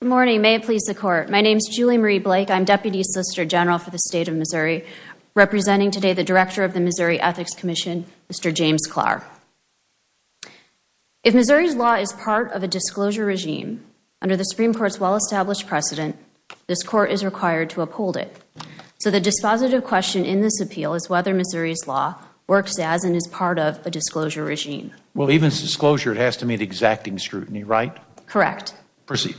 Good morning. May it please the Court. My name is Julie Marie Blake. I'm Deputy Solicitor General for the State of Missouri, representing today the Director of the Missouri Ethics Commission, Mr. James Klahr. If Missouri's law is part of a disclosure regime, under the Supreme Court's well-established precedent, this Court is required to uphold it. So the dispositive question in this appeal is whether Missouri's law works as and is part of a disclosure regime. Well, even disclosure, it has to meet exacting scrutiny, right? Correct. Proceed.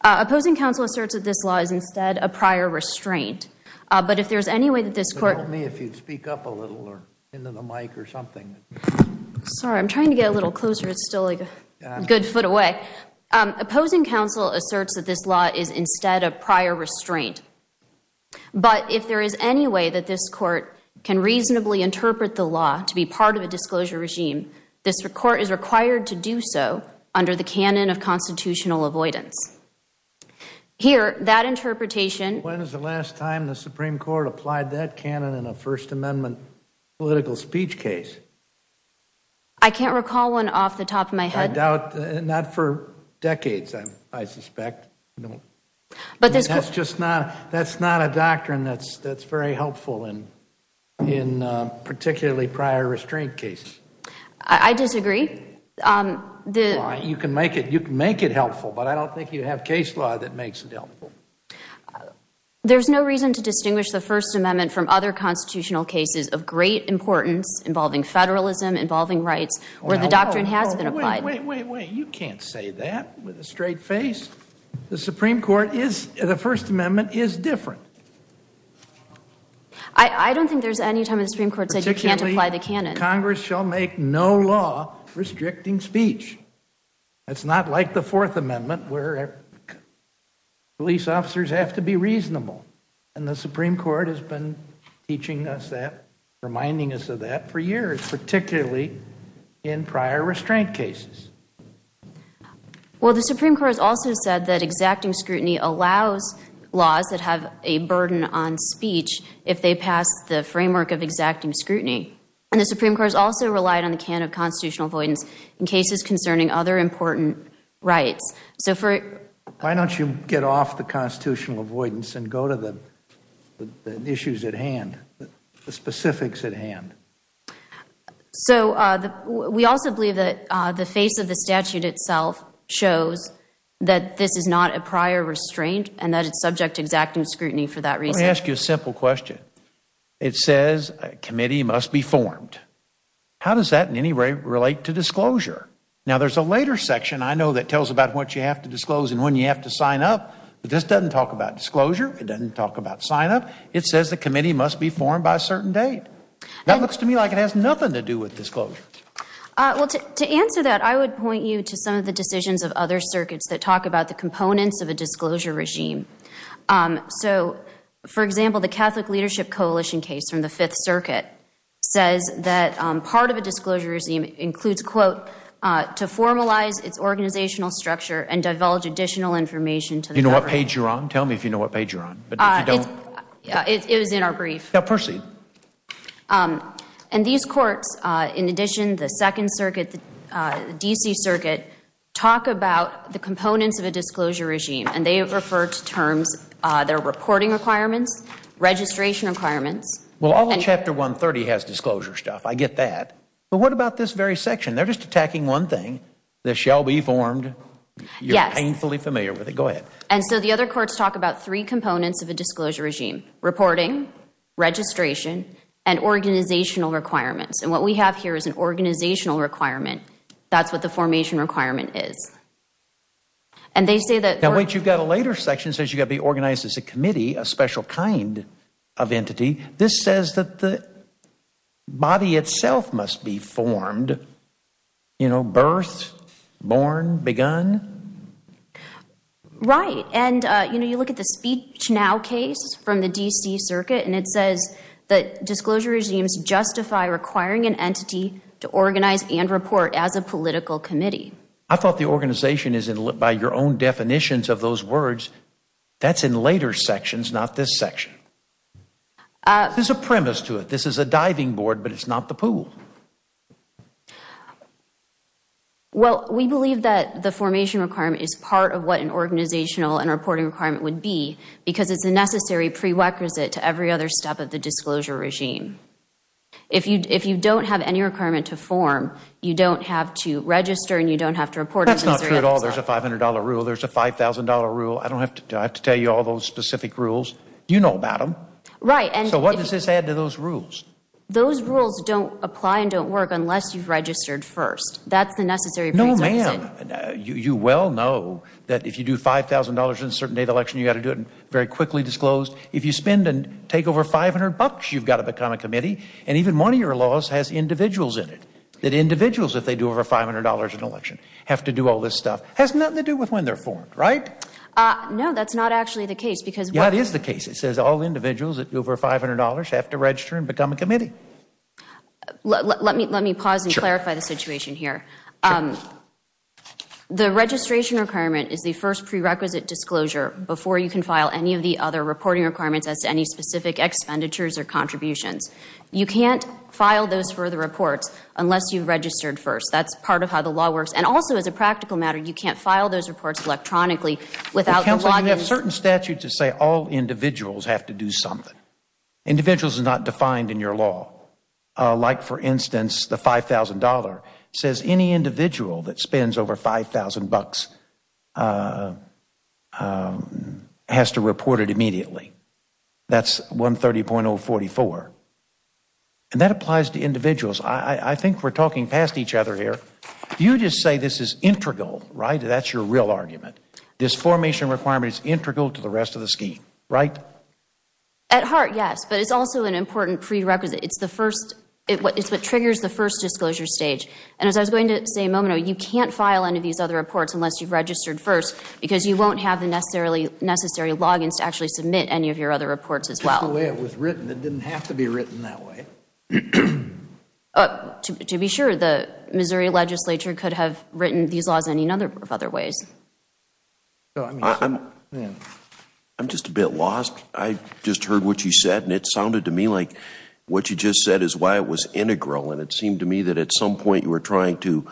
Opposing counsel asserts that this law is instead a prior restraint, but if there's any way that this Court Help me if you'd speak up a little, or into the mic, or something. Sorry, I'm trying to get a little closer. It's still like a good foot away. Opposing counsel asserts that this law is instead a prior restraint, but if there is any way that this Court can reasonably interpret the law to be part of a disclosure regime, this Court is required to do so under the canon of constitutional avoidance. Here, that interpretation When was the last time the Supreme Court applied that canon in a First Amendment political speech case? I can't recall one off the top of my head. Not for decades, I suspect. That's not a doctrine that's very helpful in particularly prior restraint cases. I disagree. You can make it helpful, but I don't think you have case law that makes it helpful. There's no reason to distinguish the First Amendment from other constitutional cases of great importance involving federalism, involving rights, where the doctrine has been applied. Wait, wait, wait. You can't say that with a straight face. The Supreme Court is, the First Amendment is different. I don't think there's any time in the Supreme Court that says you can't apply the canon. Congress shall make no law restricting speech. It's not like the Fourth Amendment where police officers have to be reasonable. And the Supreme Court has been teaching us that, reminding us of that for years, particularly in prior restraint cases. Well, the Supreme Court has also said that exacting scrutiny allows laws that have a The Supreme Court has also relied on the canon of constitutional avoidance in cases concerning other important rights. Why don't you get off the constitutional avoidance and go to the issues at hand, the specifics at hand? We also believe that the face of the statute itself shows that this is not a prior restraint and that it's subject to exacting scrutiny for that reason. Let me ask you a simple question. It says a committee must be formed. How does that in any way relate to disclosure? Now, there's a later section I know that tells about what you have to disclose and when you have to sign up, but this doesn't talk about disclosure. It doesn't talk about sign-up. It says the committee must be formed by a certain date. That looks to me like it has nothing to do with disclosure. To answer that, I would point you to some of the decisions of other circuits that talk about the components of a disclosure regime. For example, the Catholic Leadership Coalition case from the 5th Circuit says that part of a disclosure regime includes, quote, to formalize its organizational structure and divulge additional information to the government. Do you know what page you're on? Tell me if you know what page you're on, but if you don't It was in our brief. Proceed. These courts, in addition, the 2nd Circuit, the D.C. Circuit, talk about the components of a disclosure regime, and they refer to terms, their reporting requirements, registration requirements Well, all of Chapter 130 has disclosure stuff. I get that. But what about this very section? They're just attacking one thing. This shall be formed. You're painfully familiar with it. Go ahead. And so the other courts talk about three components of a disclosure regime, reporting, registration, and organizational requirements. And what we have here is an organizational requirement. That's what the formation requirement is. And they say that Now, wait, you've got a later section that says you've got to be organized as a committee, a special kind of entity. This says that the body itself must be formed, you know, birth, born, begun. Right. And, you know, you look at the Speech Now case from the D.C. Circuit, and it says that disclosure regimes justify requiring an entity to organize and report as a political committee. I thought the organization is, by your own definitions of those words, that's in later sections, not this section. There's a premise to it. This is a diving board, but it's not the pool. Well, we believe that the formation requirement is part of what an organizational and reporting requirement would be because it's a necessary prerequisite to every other step of the disclosure regime. If you don't have any requirement to form, you don't have to register and you don't have to report. That's not true at all. There's a $500 rule. There's a $5,000 rule. I don't have to tell you all those specific rules. You know about them. Right. So what does this add to those rules? Those rules don't apply and don't work unless you've registered first. That's the necessary prerequisite. Ma'am, you well know that if you do $5,000 in a certain day of the election, you've got to do it very quickly disclosed. If you spend and take over $500, you've got to become a committee. And even one of your laws has individuals in it, that individuals, if they do over $500 in an election, have to do all this stuff. It has nothing to do with when they're formed, right? No, that's not actually the case because Yeah, it is the case. It says all individuals that do over $500 have to register and become a committee. Let me pause and clarify the situation here. The registration requirement is the first prerequisite disclosure before you can file any of the other reporting requirements as to any specific expenditures or contributions. You can't file those for the reports unless you've registered first. That's part of how the law works. And also, as a practical matter, you can't file those reports electronically without the login But counsel, you have certain statutes that say all individuals have to do something. Individuals is not defined in your law. Like, for instance, the $5,000 says any individual that spends over $5,000 has to report it immediately. That's 130.044. And that applies to individuals. I think we're talking past each other here. You just say this is integral, right? That's your real argument. This formation requirement is integral to the rest of the scheme, right? At heart, yes. But it's also an important prerequisite. It's what triggers the first disclosure stage. And as I was going to say a moment ago, you can't file any of these other reports unless you've registered first because you won't have the necessary logins to actually submit any of your other reports as well. Just the way it was written. It didn't have to be written that way. To be sure, the Missouri legislature could have written these laws any number of other ways. I'm just a bit lost. I just heard what you said, and it sounded to me like what you just said is why it was integral. And it seemed to me that at some point you were trying to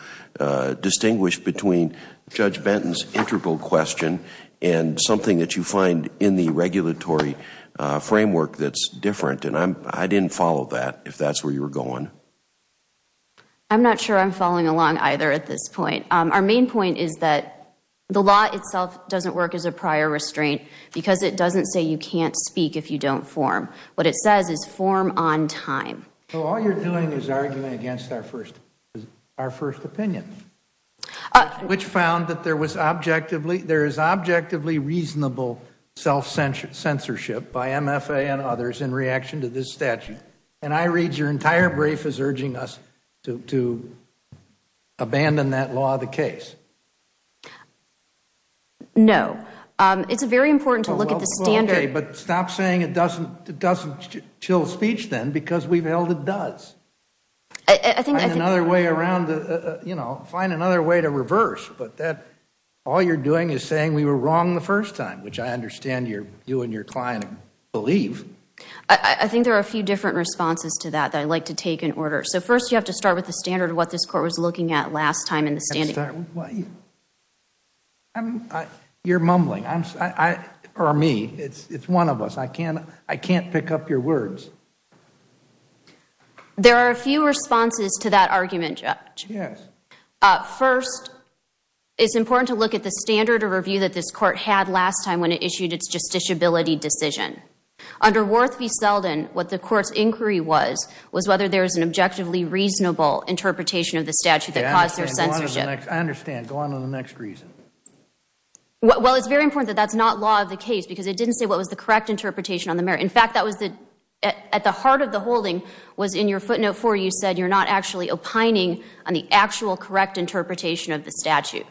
distinguish between Judge Benton's integral question and something that you find in the regulatory framework that's different. And I didn't follow that, if that's where you were going. I'm not sure I'm following along either at this point. Our main point is that the law itself doesn't work as a prior restraint because it doesn't say you can't speak if you don't form. What it says is form on time. So all you're doing is arguing against our first opinion. Which found that there is objectively reasonable self-censorship by MFA and others in reaction to this statute. And I read your entire brief as urging us to abandon that law of the case. No. It's very important to look at the standard. But stop saying it doesn't chill speech then, because we've held it does. Find another way to reverse. But all you're doing is saying we were wrong the first time, which I understand you and your client believe. I think there are a few different responses to that that I'd like to take in order. So first you have to start with the standard of what this court was looking at last time in the standing. You're mumbling. Or me. It's one of us. I can't pick up your words. There are a few responses to that argument, Judge. First, it's important to look at the standard of review that this court had last time when it issued its justiciability decision. Under Worth v. Selden, what the court's inquiry was, was whether there was an objectively reasonable interpretation of the statute that caused their censorship. I understand. Go on to the next reason. Well, it's very important that that's not law of the case, because it didn't say what was the correct interpretation on the merit. In fact, that was at the heart of the holding was in your footnote 4, you said you're not actually opining on the actual correct interpretation of the statute.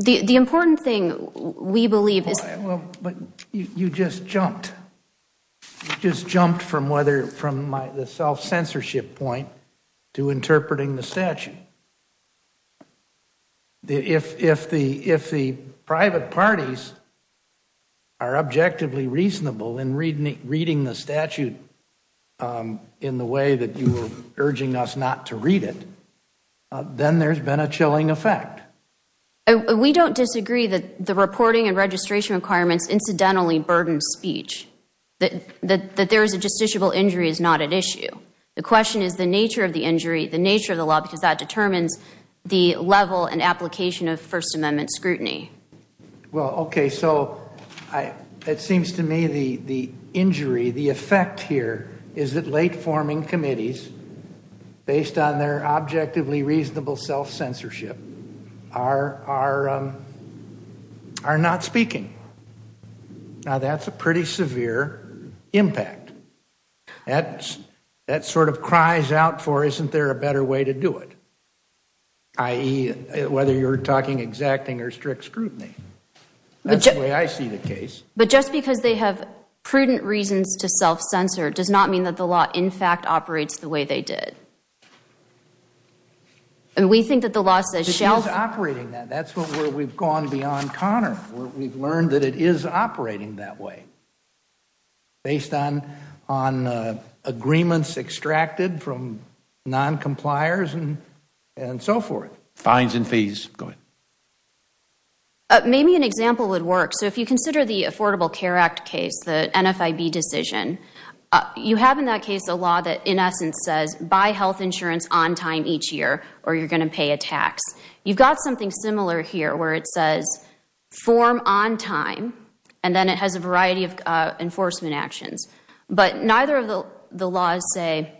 The important thing, we believe, is Well, you just jumped. You just jumped from the self-censorship point to interpreting the statute. If the private parties are objectively reasonable in reading the statute in the way that you were urging us not to read it, then there's been a chilling effect. We don't disagree that the reporting and registration requirements incidentally burden speech. That there is a justiciable injury is not at issue. The question is the nature of the injury, the nature of the law, because that determines the level and application of First Amendment scrutiny. Well, okay, so it seems to me the injury, the effect here is that late-forming committees, based on their objectively reasonable self-censorship, are not speaking. Now, that's a pretty severe impact. That sort of cries out for isn't there a better way to do it, i.e., whether you're talking exacting or strict scrutiny. That's the way I see the case. But just because they have prudent reasons to self-censor does not mean that the law in fact operates the way they did. And we think that the law says It is operating that. That's where we've gone beyond Connor, where we've learned that it is operating that way, based on agreements extracted from noncompliers and so forth. Fines and fees. Go ahead. Maybe an example would work. So if you consider the Affordable Care Act case, the NFIB decision, you have in that case a law that in essence says, buy health insurance on time each year or you're going to pay a tax. You've got something similar here where it says, form on time. And then it has a variety of enforcement actions. But neither of the laws say,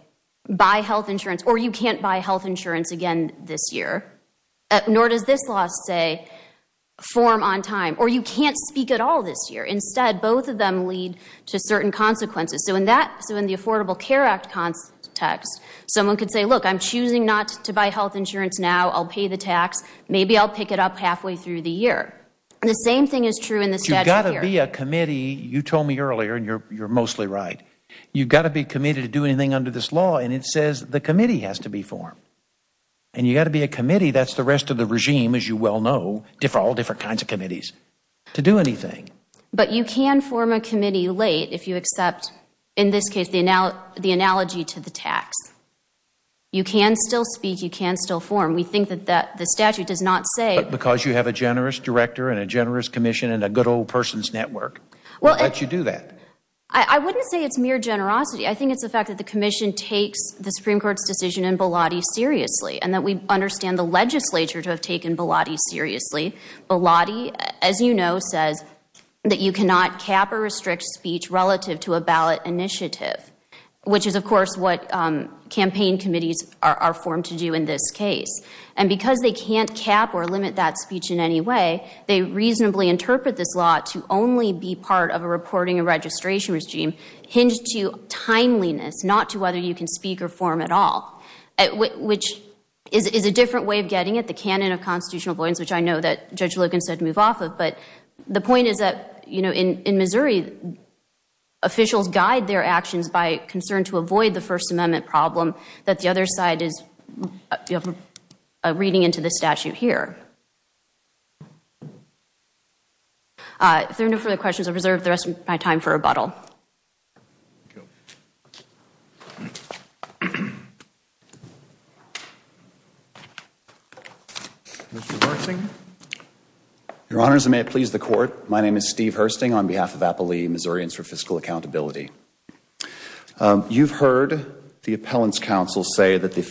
buy health insurance or you can't buy health insurance again this year. Nor does this law say, form on time or you can't speak at all this year. Instead, both of them lead to certain consequences. So in the Affordable Care Act context, someone could say, look, I'm choosing not to buy health insurance now. I'll pay the tax. Maybe I'll pick it up halfway through the year. The same thing is true in the statute here. You've got to be a committee. You told me earlier, and you're mostly right. You've got to be committed to doing anything under this law. And it says the committee has to be formed. And you've got to be a committee. That's the rest of the regime, as you well know, all different kinds of committees, to do anything. But you can form a committee late if you accept, in this case, the analogy to the tax. You can still speak. You can still form. We think that the statute does not say Because you have a generous director and a generous commission and a good old person's network to let you do that. I wouldn't say it's mere generosity. I think it's the fact that the commission takes the Supreme Court's decision in Bilotti seriously and that we understand the legislature to have taken Bilotti seriously. Bilotti, as you know, says that you cannot cap or restrict speech relative to a ballot initiative, which is, of course, what campaign committees are limit cap or limit that speech in any way, they reasonably interpret this law to only be part of a reporting and registration regime hinged to timeliness, not to whether you can speak or form at all, which is a different way of getting at the canon of constitutional avoidance, which I know that Judge Logan said to move off of. But the point is that in Missouri, officials guide their actions by concern to avoid the statute here. If there are no further questions, I will reserve the rest of my time for rebuttal. Your Honor, as I may please the Court, my name is Steve Hursting on behalf of Appalachian Missourians for Fiscal Accountability. You've heard the Appellant's counsel say that the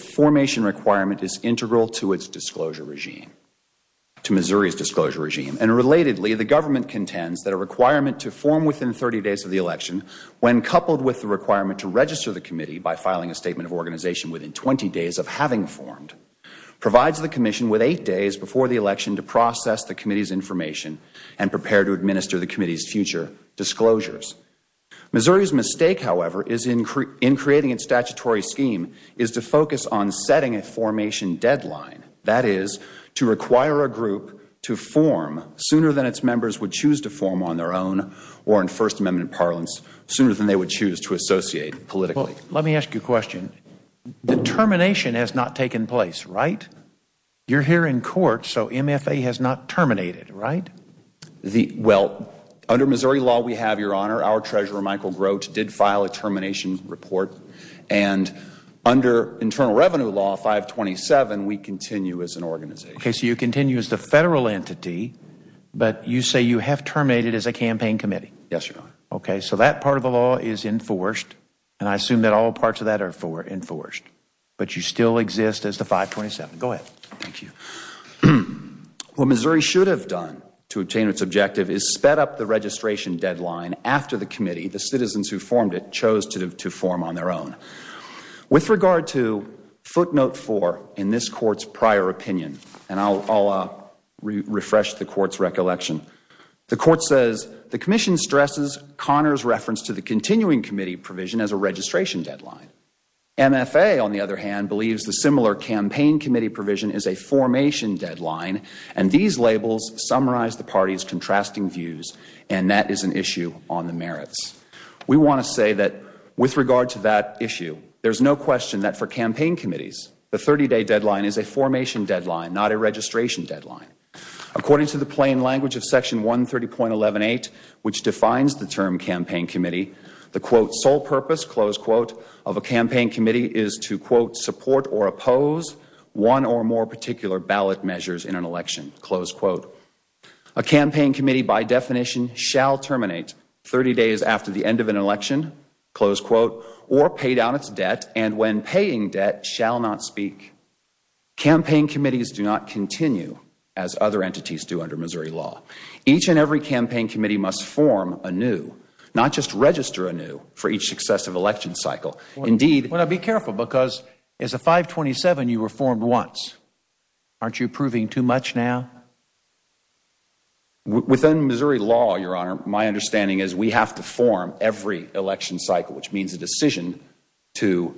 to Missouri's disclosure regime. And relatedly, the government contends that a requirement to form within 30 days of the election, when coupled with the requirement to register the committee by filing a statement of organization within 20 days of having formed, provides the commission with eight days before the election to process the committee's information and prepare to administer the committee's future disclosures. Missouri's mistake, however, in creating its statutory scheme is to focus on setting a to require a group to form sooner than its members would choose to form on their own or in First Amendment parlance sooner than they would choose to associate politically. Let me ask you a question. The termination has not taken place, right? You're here in court, so MFA has not terminated, right? Under Missouri law, we have, Your Honor, our Treasurer, Michael Grote, did file a termination report. And under Internal Revenue Law 527, we continue as an organization. Okay, so you continue as the Federal entity, but you say you have terminated as a campaign committee? Yes, Your Honor. Okay, so that part of the law is enforced, and I assume that all parts of that are enforced. But you still exist as the 527. Go ahead. Thank you. What Missouri should have done to obtain its objective is sped up the registration deadline after the committee, the citizens who formed it, chose to form on their own. With regard to footnote 4 in this Court's prior opinion, and I'll refresh the Court's recollection, the Court says the Commission stresses Conner's reference to the continuing committee provision as a registration deadline. MFA, on the other hand, believes the similar campaign committee provision is a formation deadline, and these labels summarize the Party's on the merits. We want to say that with regard to that issue, there's no question that for campaign committees, the 30-day deadline is a formation deadline, not a registration deadline. According to the plain language of Section 130.118, which defines the term campaign committee, the, quote, sole purpose, close quote, of a campaign committee is to, quote, support or oppose one or more particular ballot measures in an election, close quote. A campaign committee, by definition, shall terminate 30 days after the end of an election, close quote, or pay down its debt, and when paying debt, shall not speak. Campaign committees do not continue as other entities do under Missouri law. Each and every campaign committee must form anew, not just register anew, for each successive election cycle. Indeed Well, now, be careful, because as a 527, you were formed once. Aren't you approving too much now? Within Missouri law, Your Honor, my understanding is we have to form every election cycle, which means a decision to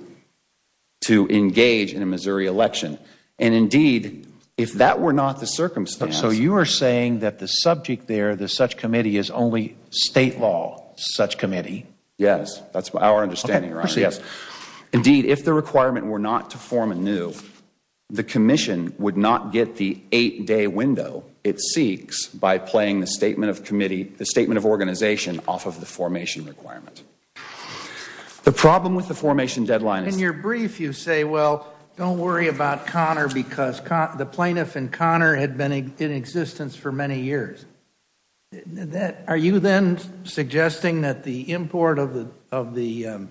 engage in a Missouri election. And indeed, if that were not the circumstance So you are saying that the subject there, the such committee, is only state law, such committee? Yes, that's our understanding, Your Honor. Okay, proceed. Indeed, if the requirement were not to form anew, the commission would not get the eight-day window it seeks by playing the statement of committee, the statement of organization off of the formation requirement. The problem with the formation deadline is In your brief, you say, well, don't worry about Conner, because the plaintiff in Conner had been in existence for many years. Are you then suggesting that the import of the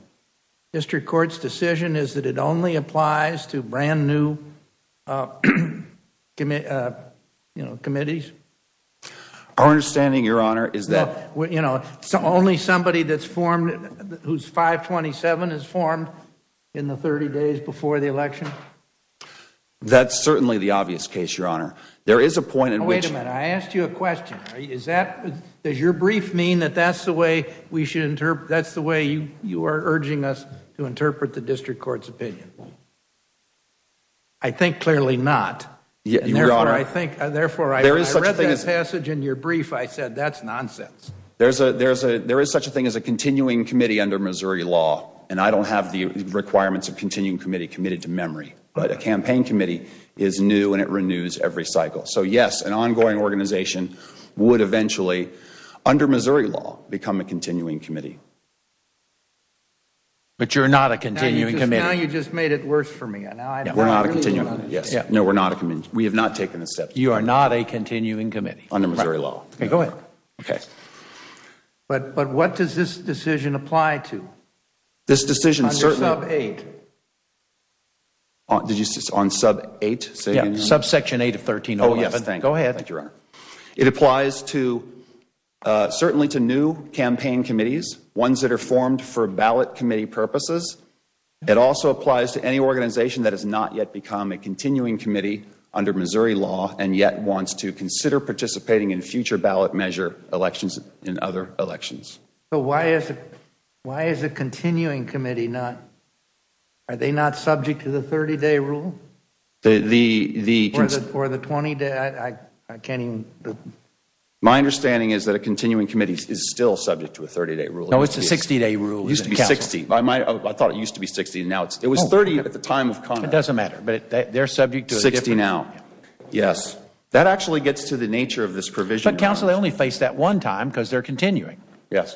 district court's decision is that it only applies to brand new, you know, committees? Our understanding, Your Honor, is that Well, you know, only somebody who is 527 is formed in the 30 days before the election? That's certainly the obvious case, Your Honor. There is a point in which Wait a minute. I asked you a question. Does your brief mean that that's the way you are urging us to interpret the district court's opinion? I think clearly not. Your Honor Therefore, I read that passage in your brief. I said that's nonsense. There is such a thing as a continuing committee under Missouri law, and I don't have the requirements of a continuing committee committed to memory, but a campaign committee is new and it renews every cycle. So, yes, an ongoing organization would eventually, under Missouri law, become a continuing committee. But you are not a continuing committee? Now you just made it worse for me. We are not a continuing committee. We have not taken a step toward that. You are not a continuing committee? Under Missouri law. Okay, go ahead. But what does this decision apply to? This decision Under sub 8. Did you say on sub 8? Yes, sub section 8 of 13-11. Oh, yes, thank you. Go ahead. Thank you, Your Honor. It applies certainly to new campaign committees, ones that are formed for ballot committee purposes. It also applies to any organization that has not yet become a continuing committee under Missouri law and yet wants to consider participating in future ballot measure elections and other elections. So why is a continuing committee not subject to the 30-day rule? Or the 20-day? My understanding is that a continuing committee is still subject to a 30-day rule. No, it is a 60-day rule. It used to be 60. I thought it used to be 60. It was 30 at the time of Congress. It doesn't matter, but they are subject to a different 60 now, yes. That actually gets to the nature of this provision. But, counsel, they only face that one time because they are continuing.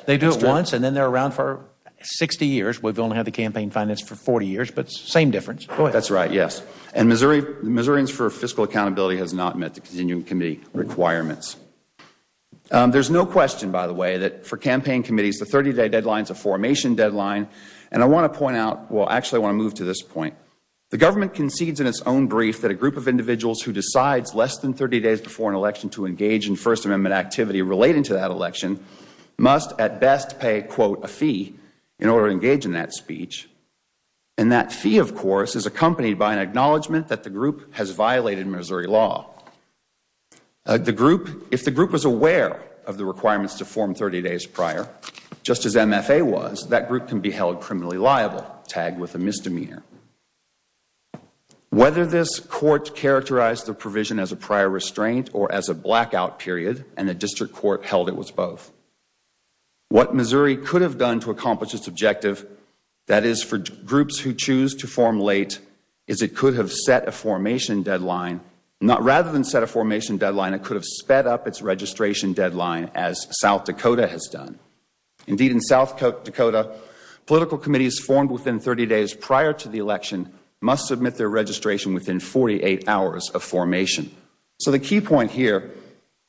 They do it once and then they are around for 60 years. We have only had the campaign finance for 40 years, but it is the same difference. That is right, yes. And the Missourians for Fiscal Accountability has not met the continuing committee requirements. There is no question, by the way, that for campaign committees, the 30-day deadline is a formation deadline. And I want to point out, well, actually I want to move to this point. The government concedes in its own brief that a group of individuals who decide less than must at best pay a fee in order to engage in that speech. And that fee, of course, is accompanied by an acknowledgment that the group has violated Missouri law. If the group was aware of the requirements to form 30 days prior, just as MFA was, that group can be held criminally liable, tagged with a misdemeanor. Whether this court characterized the provision as a prior restraint or as a blackout period and the district court held it was both. What Missouri could have done to accomplish its objective, that is, for groups who choose to form late, is it could have set a formation deadline. Rather than set a formation deadline, it could have sped up its registration deadline, as South Dakota has done. Indeed, in South Dakota, political committees formed within 30 days prior to the election must submit their registration within 48 hours of formation. So the key point here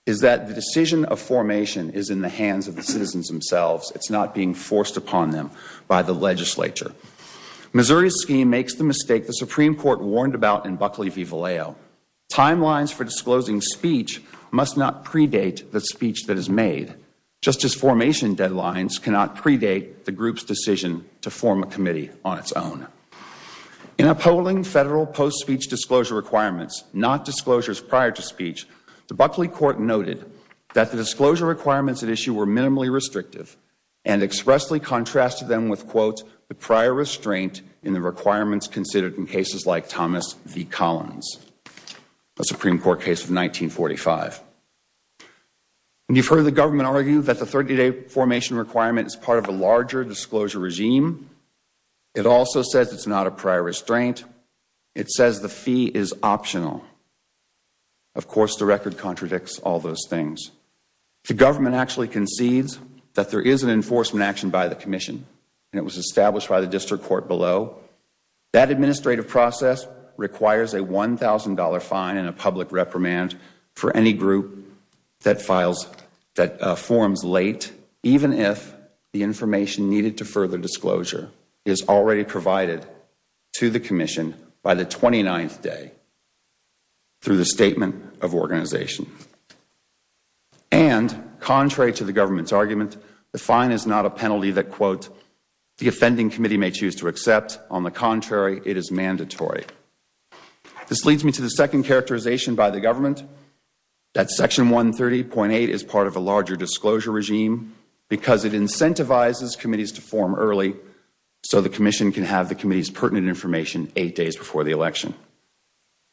is that the decision of formation is in the hands of the citizens themselves. It is not being forced upon them by the legislature. Missouri's scheme makes the mistake the Supreme Court warned about in Buckley v. Vallejo. Timelines for disclosing speech must not predate the speech that is made. Justice formation deadlines cannot predate the group's decision to form a committee on its own. In upholding federal post-speech disclosure requirements, not disclosures prior to speech, the Buckley court noted that the disclosure requirements at issue were minimally restrictive and expressly contrasted them with, quote, the prior restraint in the requirements considered in cases like Thomas v. Collins, a Supreme Court case of 1945. You've heard the government argue that the 30-day formation requirement is part of a It also says it's not a prior restraint. It says the fee is optional. Of course, the record contradicts all those things. The government actually concedes that there is an enforcement action by the commission, and it was established by the district court below. That administrative process requires a $1,000 fine and a public reprimand for any group that forms late, even if the information needed to further disclosure is already provided to the commission by the 29th day through the statement of organization. And contrary to the government's argument, the fine is not a penalty that, quote, the offending committee may choose to accept. On the contrary, it is mandatory. This leads me to the second characterization by the government, that Section 130.8 is part of a larger disclosure regime because it incentivizes committees to form early so the commission can have the committee's pertinent information eight days before the election.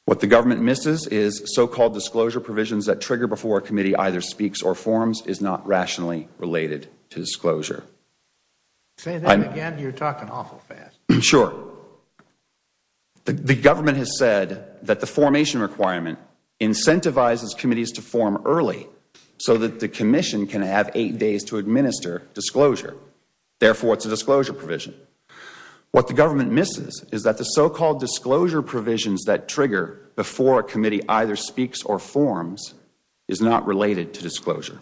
What the government misses is so-called disclosure provisions that trigger before a committee either speaks or forms is not rationally related to disclosure. The government has said that the formation requirement incentivizes committees to form early so that the commission can have eight days to administer disclosure. Therefore, it is a disclosure provision. What the government misses is that the so-called disclosure provisions that trigger before a committee either speaks or forms is not related to disclosure.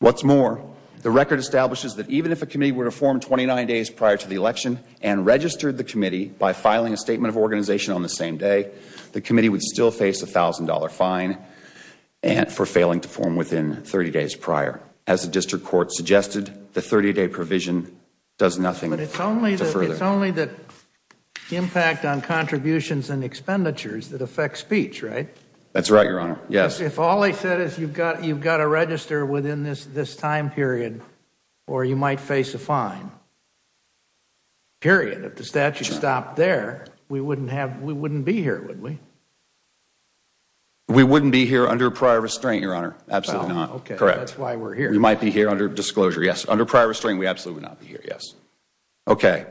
What is more, the record establishes that even if a committee were to form 29 days prior to the election and registered the committee by filing a statement of organization on the same day, the committee would still face a $1,000 fine for failing to form within 30 days prior. As the district court suggested, the 30-day provision does nothing to further it. But it is only the impact on contributions and expenditures that affect speech, right? That is right, Your Honor. Because if all they said is you have to register within this time period or you might face a fine, period, if the statute stopped there, we wouldn't be here, would we? We wouldn't be here under prior restraint, Your Honor. Absolutely not. That is why we are here. We might be here under disclosure, yes. Under prior restraint, we absolutely would not be here, yes. I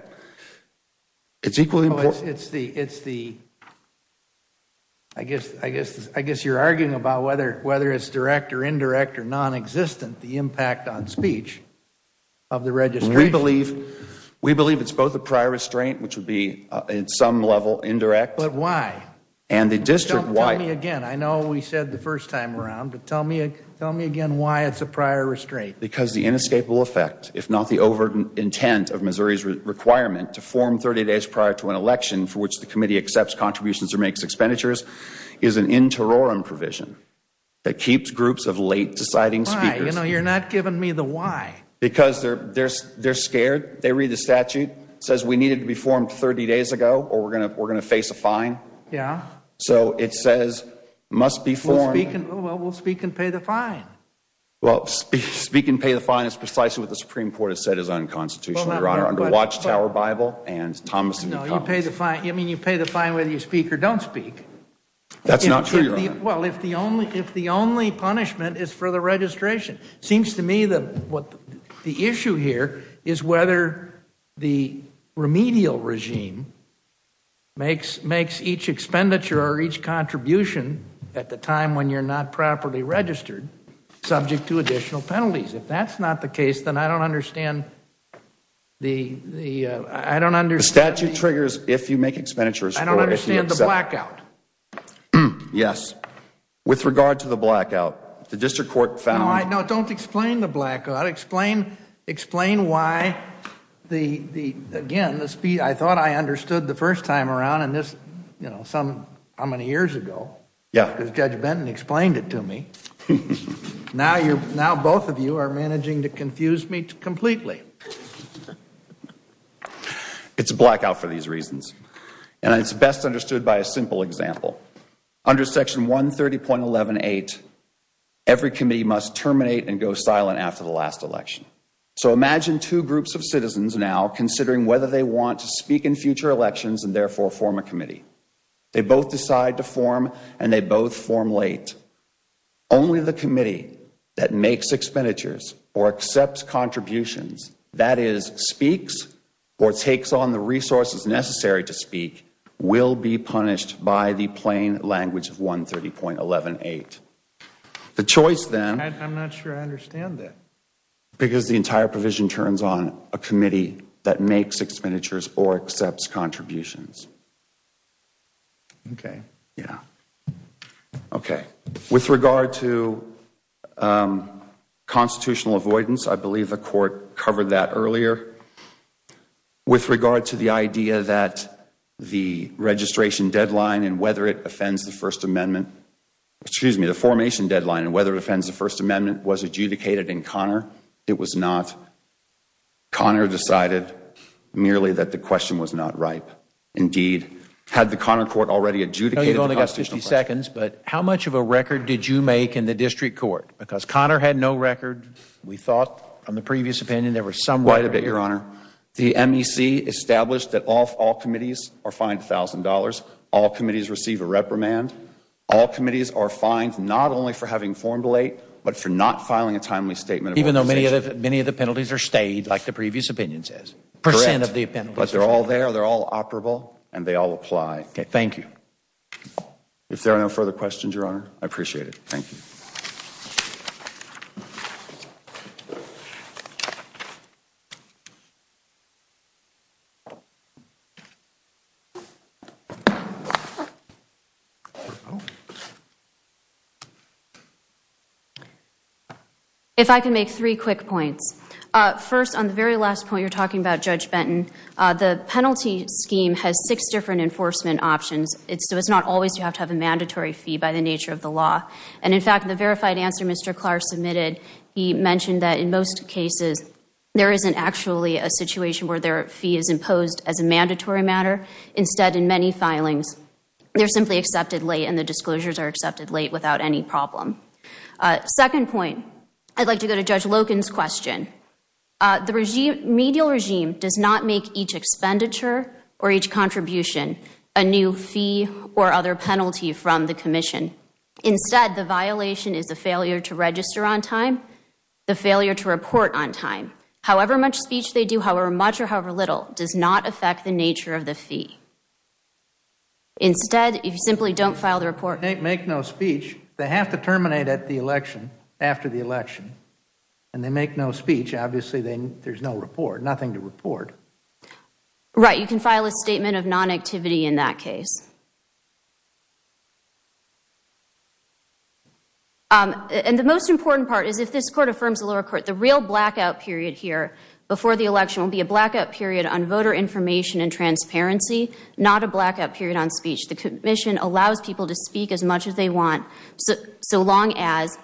guess you are arguing about whether it is direct or indirect or nonexistent, the impact on speech of the registration. We believe it is both a prior restraint, which would be, at some level, indirect. But why? And the district why. Tell me again. I know we said the first time around, but tell me again why it is a prior restraint. Because the inescapable effect, if not the overt intent of Missouri's requirement to form 30 days prior to an election for which the committee accepts contributions or makes expenditures is an interorum provision that keeps groups of late deciding speakers. You are not giving me the why. Because they are scared. They read the statute. It says we needed to be formed 30 days ago or we are going to face a fine. So it says, must be formed. Well, we will speak and pay the fine. Speak and pay the fine is precisely what the Supreme Court has said is unconstitutional, Your Honor, under Watchtower Bible and Thomas and New Commons. You pay the fine whether you speak or don't speak. That is not true, Your Honor. Well, if the only punishment is for the registration. It seems to me that the issue here is whether the remedial regime makes each expenditure or each contribution at the time when you are not properly registered subject to additional penalties. If that is not the case, then I don't understand the statute triggers if you make expenditures or if you accept. I don't understand the blackout. Yes. With regard to the blackout, the District Court found No, don't explain the blackout. Explain why the, again, I thought I understood the first time around and this, you know, how many years ago. Yeah. Because Judge Benton explained it to me. Now both of you are managing to confuse me completely. It is a blackout for these reasons. And it is best understood by a simple example. Under Section 130.118, every committee must terminate and go silent after the last election. So imagine two groups of citizens now considering whether they want to speak in future elections and therefore form a committee. They both decide to form and they both form late. Only the committee that makes expenditures or accepts contributions, that is, speaks or takes on the resources necessary to speak, will be punished by the plain language of 130.118. The choice then I am not sure I understand that. Because the entire provision turns on a committee that makes expenditures or accepts contributions. Okay. Yeah. Okay. With regard to constitutional avoidance, I believe the Court covered that earlier. With regard to the idea that the registration deadline and whether it offends the First Amendment, excuse me, the formation deadline and whether it offends the First Amendment was adjudicated in Connor. It was not. Connor decided merely that the question was not ripe. Indeed, had the Connor Court already adjudicated the constitutional question? How much of a record did you make in the district court? Because Connor had no record. We thought on the previous opinion there was some record. Quite a bit, Your Honor. The MEC established that all committees are fined $1,000. All committees receive a reprimand. All committees are fined not only for having formed late but for not filing a timely statement of compensation. Even though many of the penalties are stayed, like the previous opinion says. Correct. Percent of the penalties are stayed. But they are all there. They are all operable and they all apply. Okay. Thank you. If there are no further questions, Your Honor, I appreciate it. Thank you. If I can make three quick points. First, on the very last point you're talking about, Judge Benton, the penalty scheme has six different enforcement options. So it's not always you have to have a mandatory fee by the nature of the law. And, in fact, the verified answer Mr. Clark submitted, he mentioned that in most cases there isn't actually a situation where their fee is imposed as a mandatory matter. Instead, in many filings, they're simply accepted late and the disclosures are accepted late without any problem. Second point, I'd like to go to Judge Loken's question. The medial regime does not make each expenditure or each contribution a new fee or other penalty from the commission. Instead, the violation is the failure to register on time, the failure to report on time. However much speech they do, however much or however little, does not affect the nature of the fee. Instead, if you simply don't file the report. They make no speech. They have to terminate at the election, after the election. And they make no speech, obviously there's no report. Nothing to report. Right. You can file a statement of non-activity in that case. And the most important part is if this court affirms the lower court, the real blackout period here before the election will be a blackout period on voter information and transparency, not a blackout period on speech. The commission allows people to speak as much as they want so long as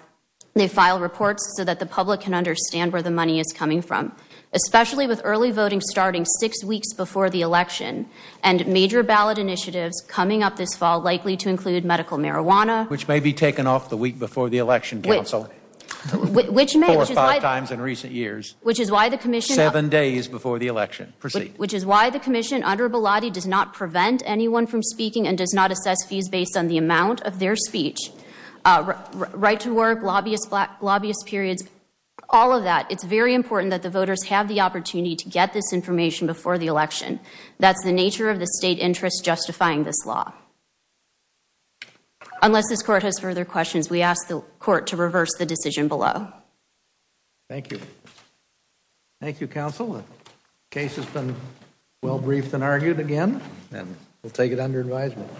they file reports so that the public can understand where the money is coming from. Especially with early voting starting six weeks before the election. And major ballot initiatives coming up this fall likely to include medical marijuana. Which may be taken off the week before the election, counsel. Which may. Four or five times in recent years. Which is why the commission. Seven days before the election. Proceed. Which is why the commission under Bilotti does not prevent anyone from speaking and does not assess fees based on the amount of their speech. Right to work, lobbyist periods. All of that. It's very important that the voters have the opportunity to get this information before the election. That's the nature of the state interest justifying this law. Unless this court has further questions, we ask the court to reverse the decision below. Thank you. Thank you, counsel. The case has been well briefed and argued again. And we'll take it under advisement.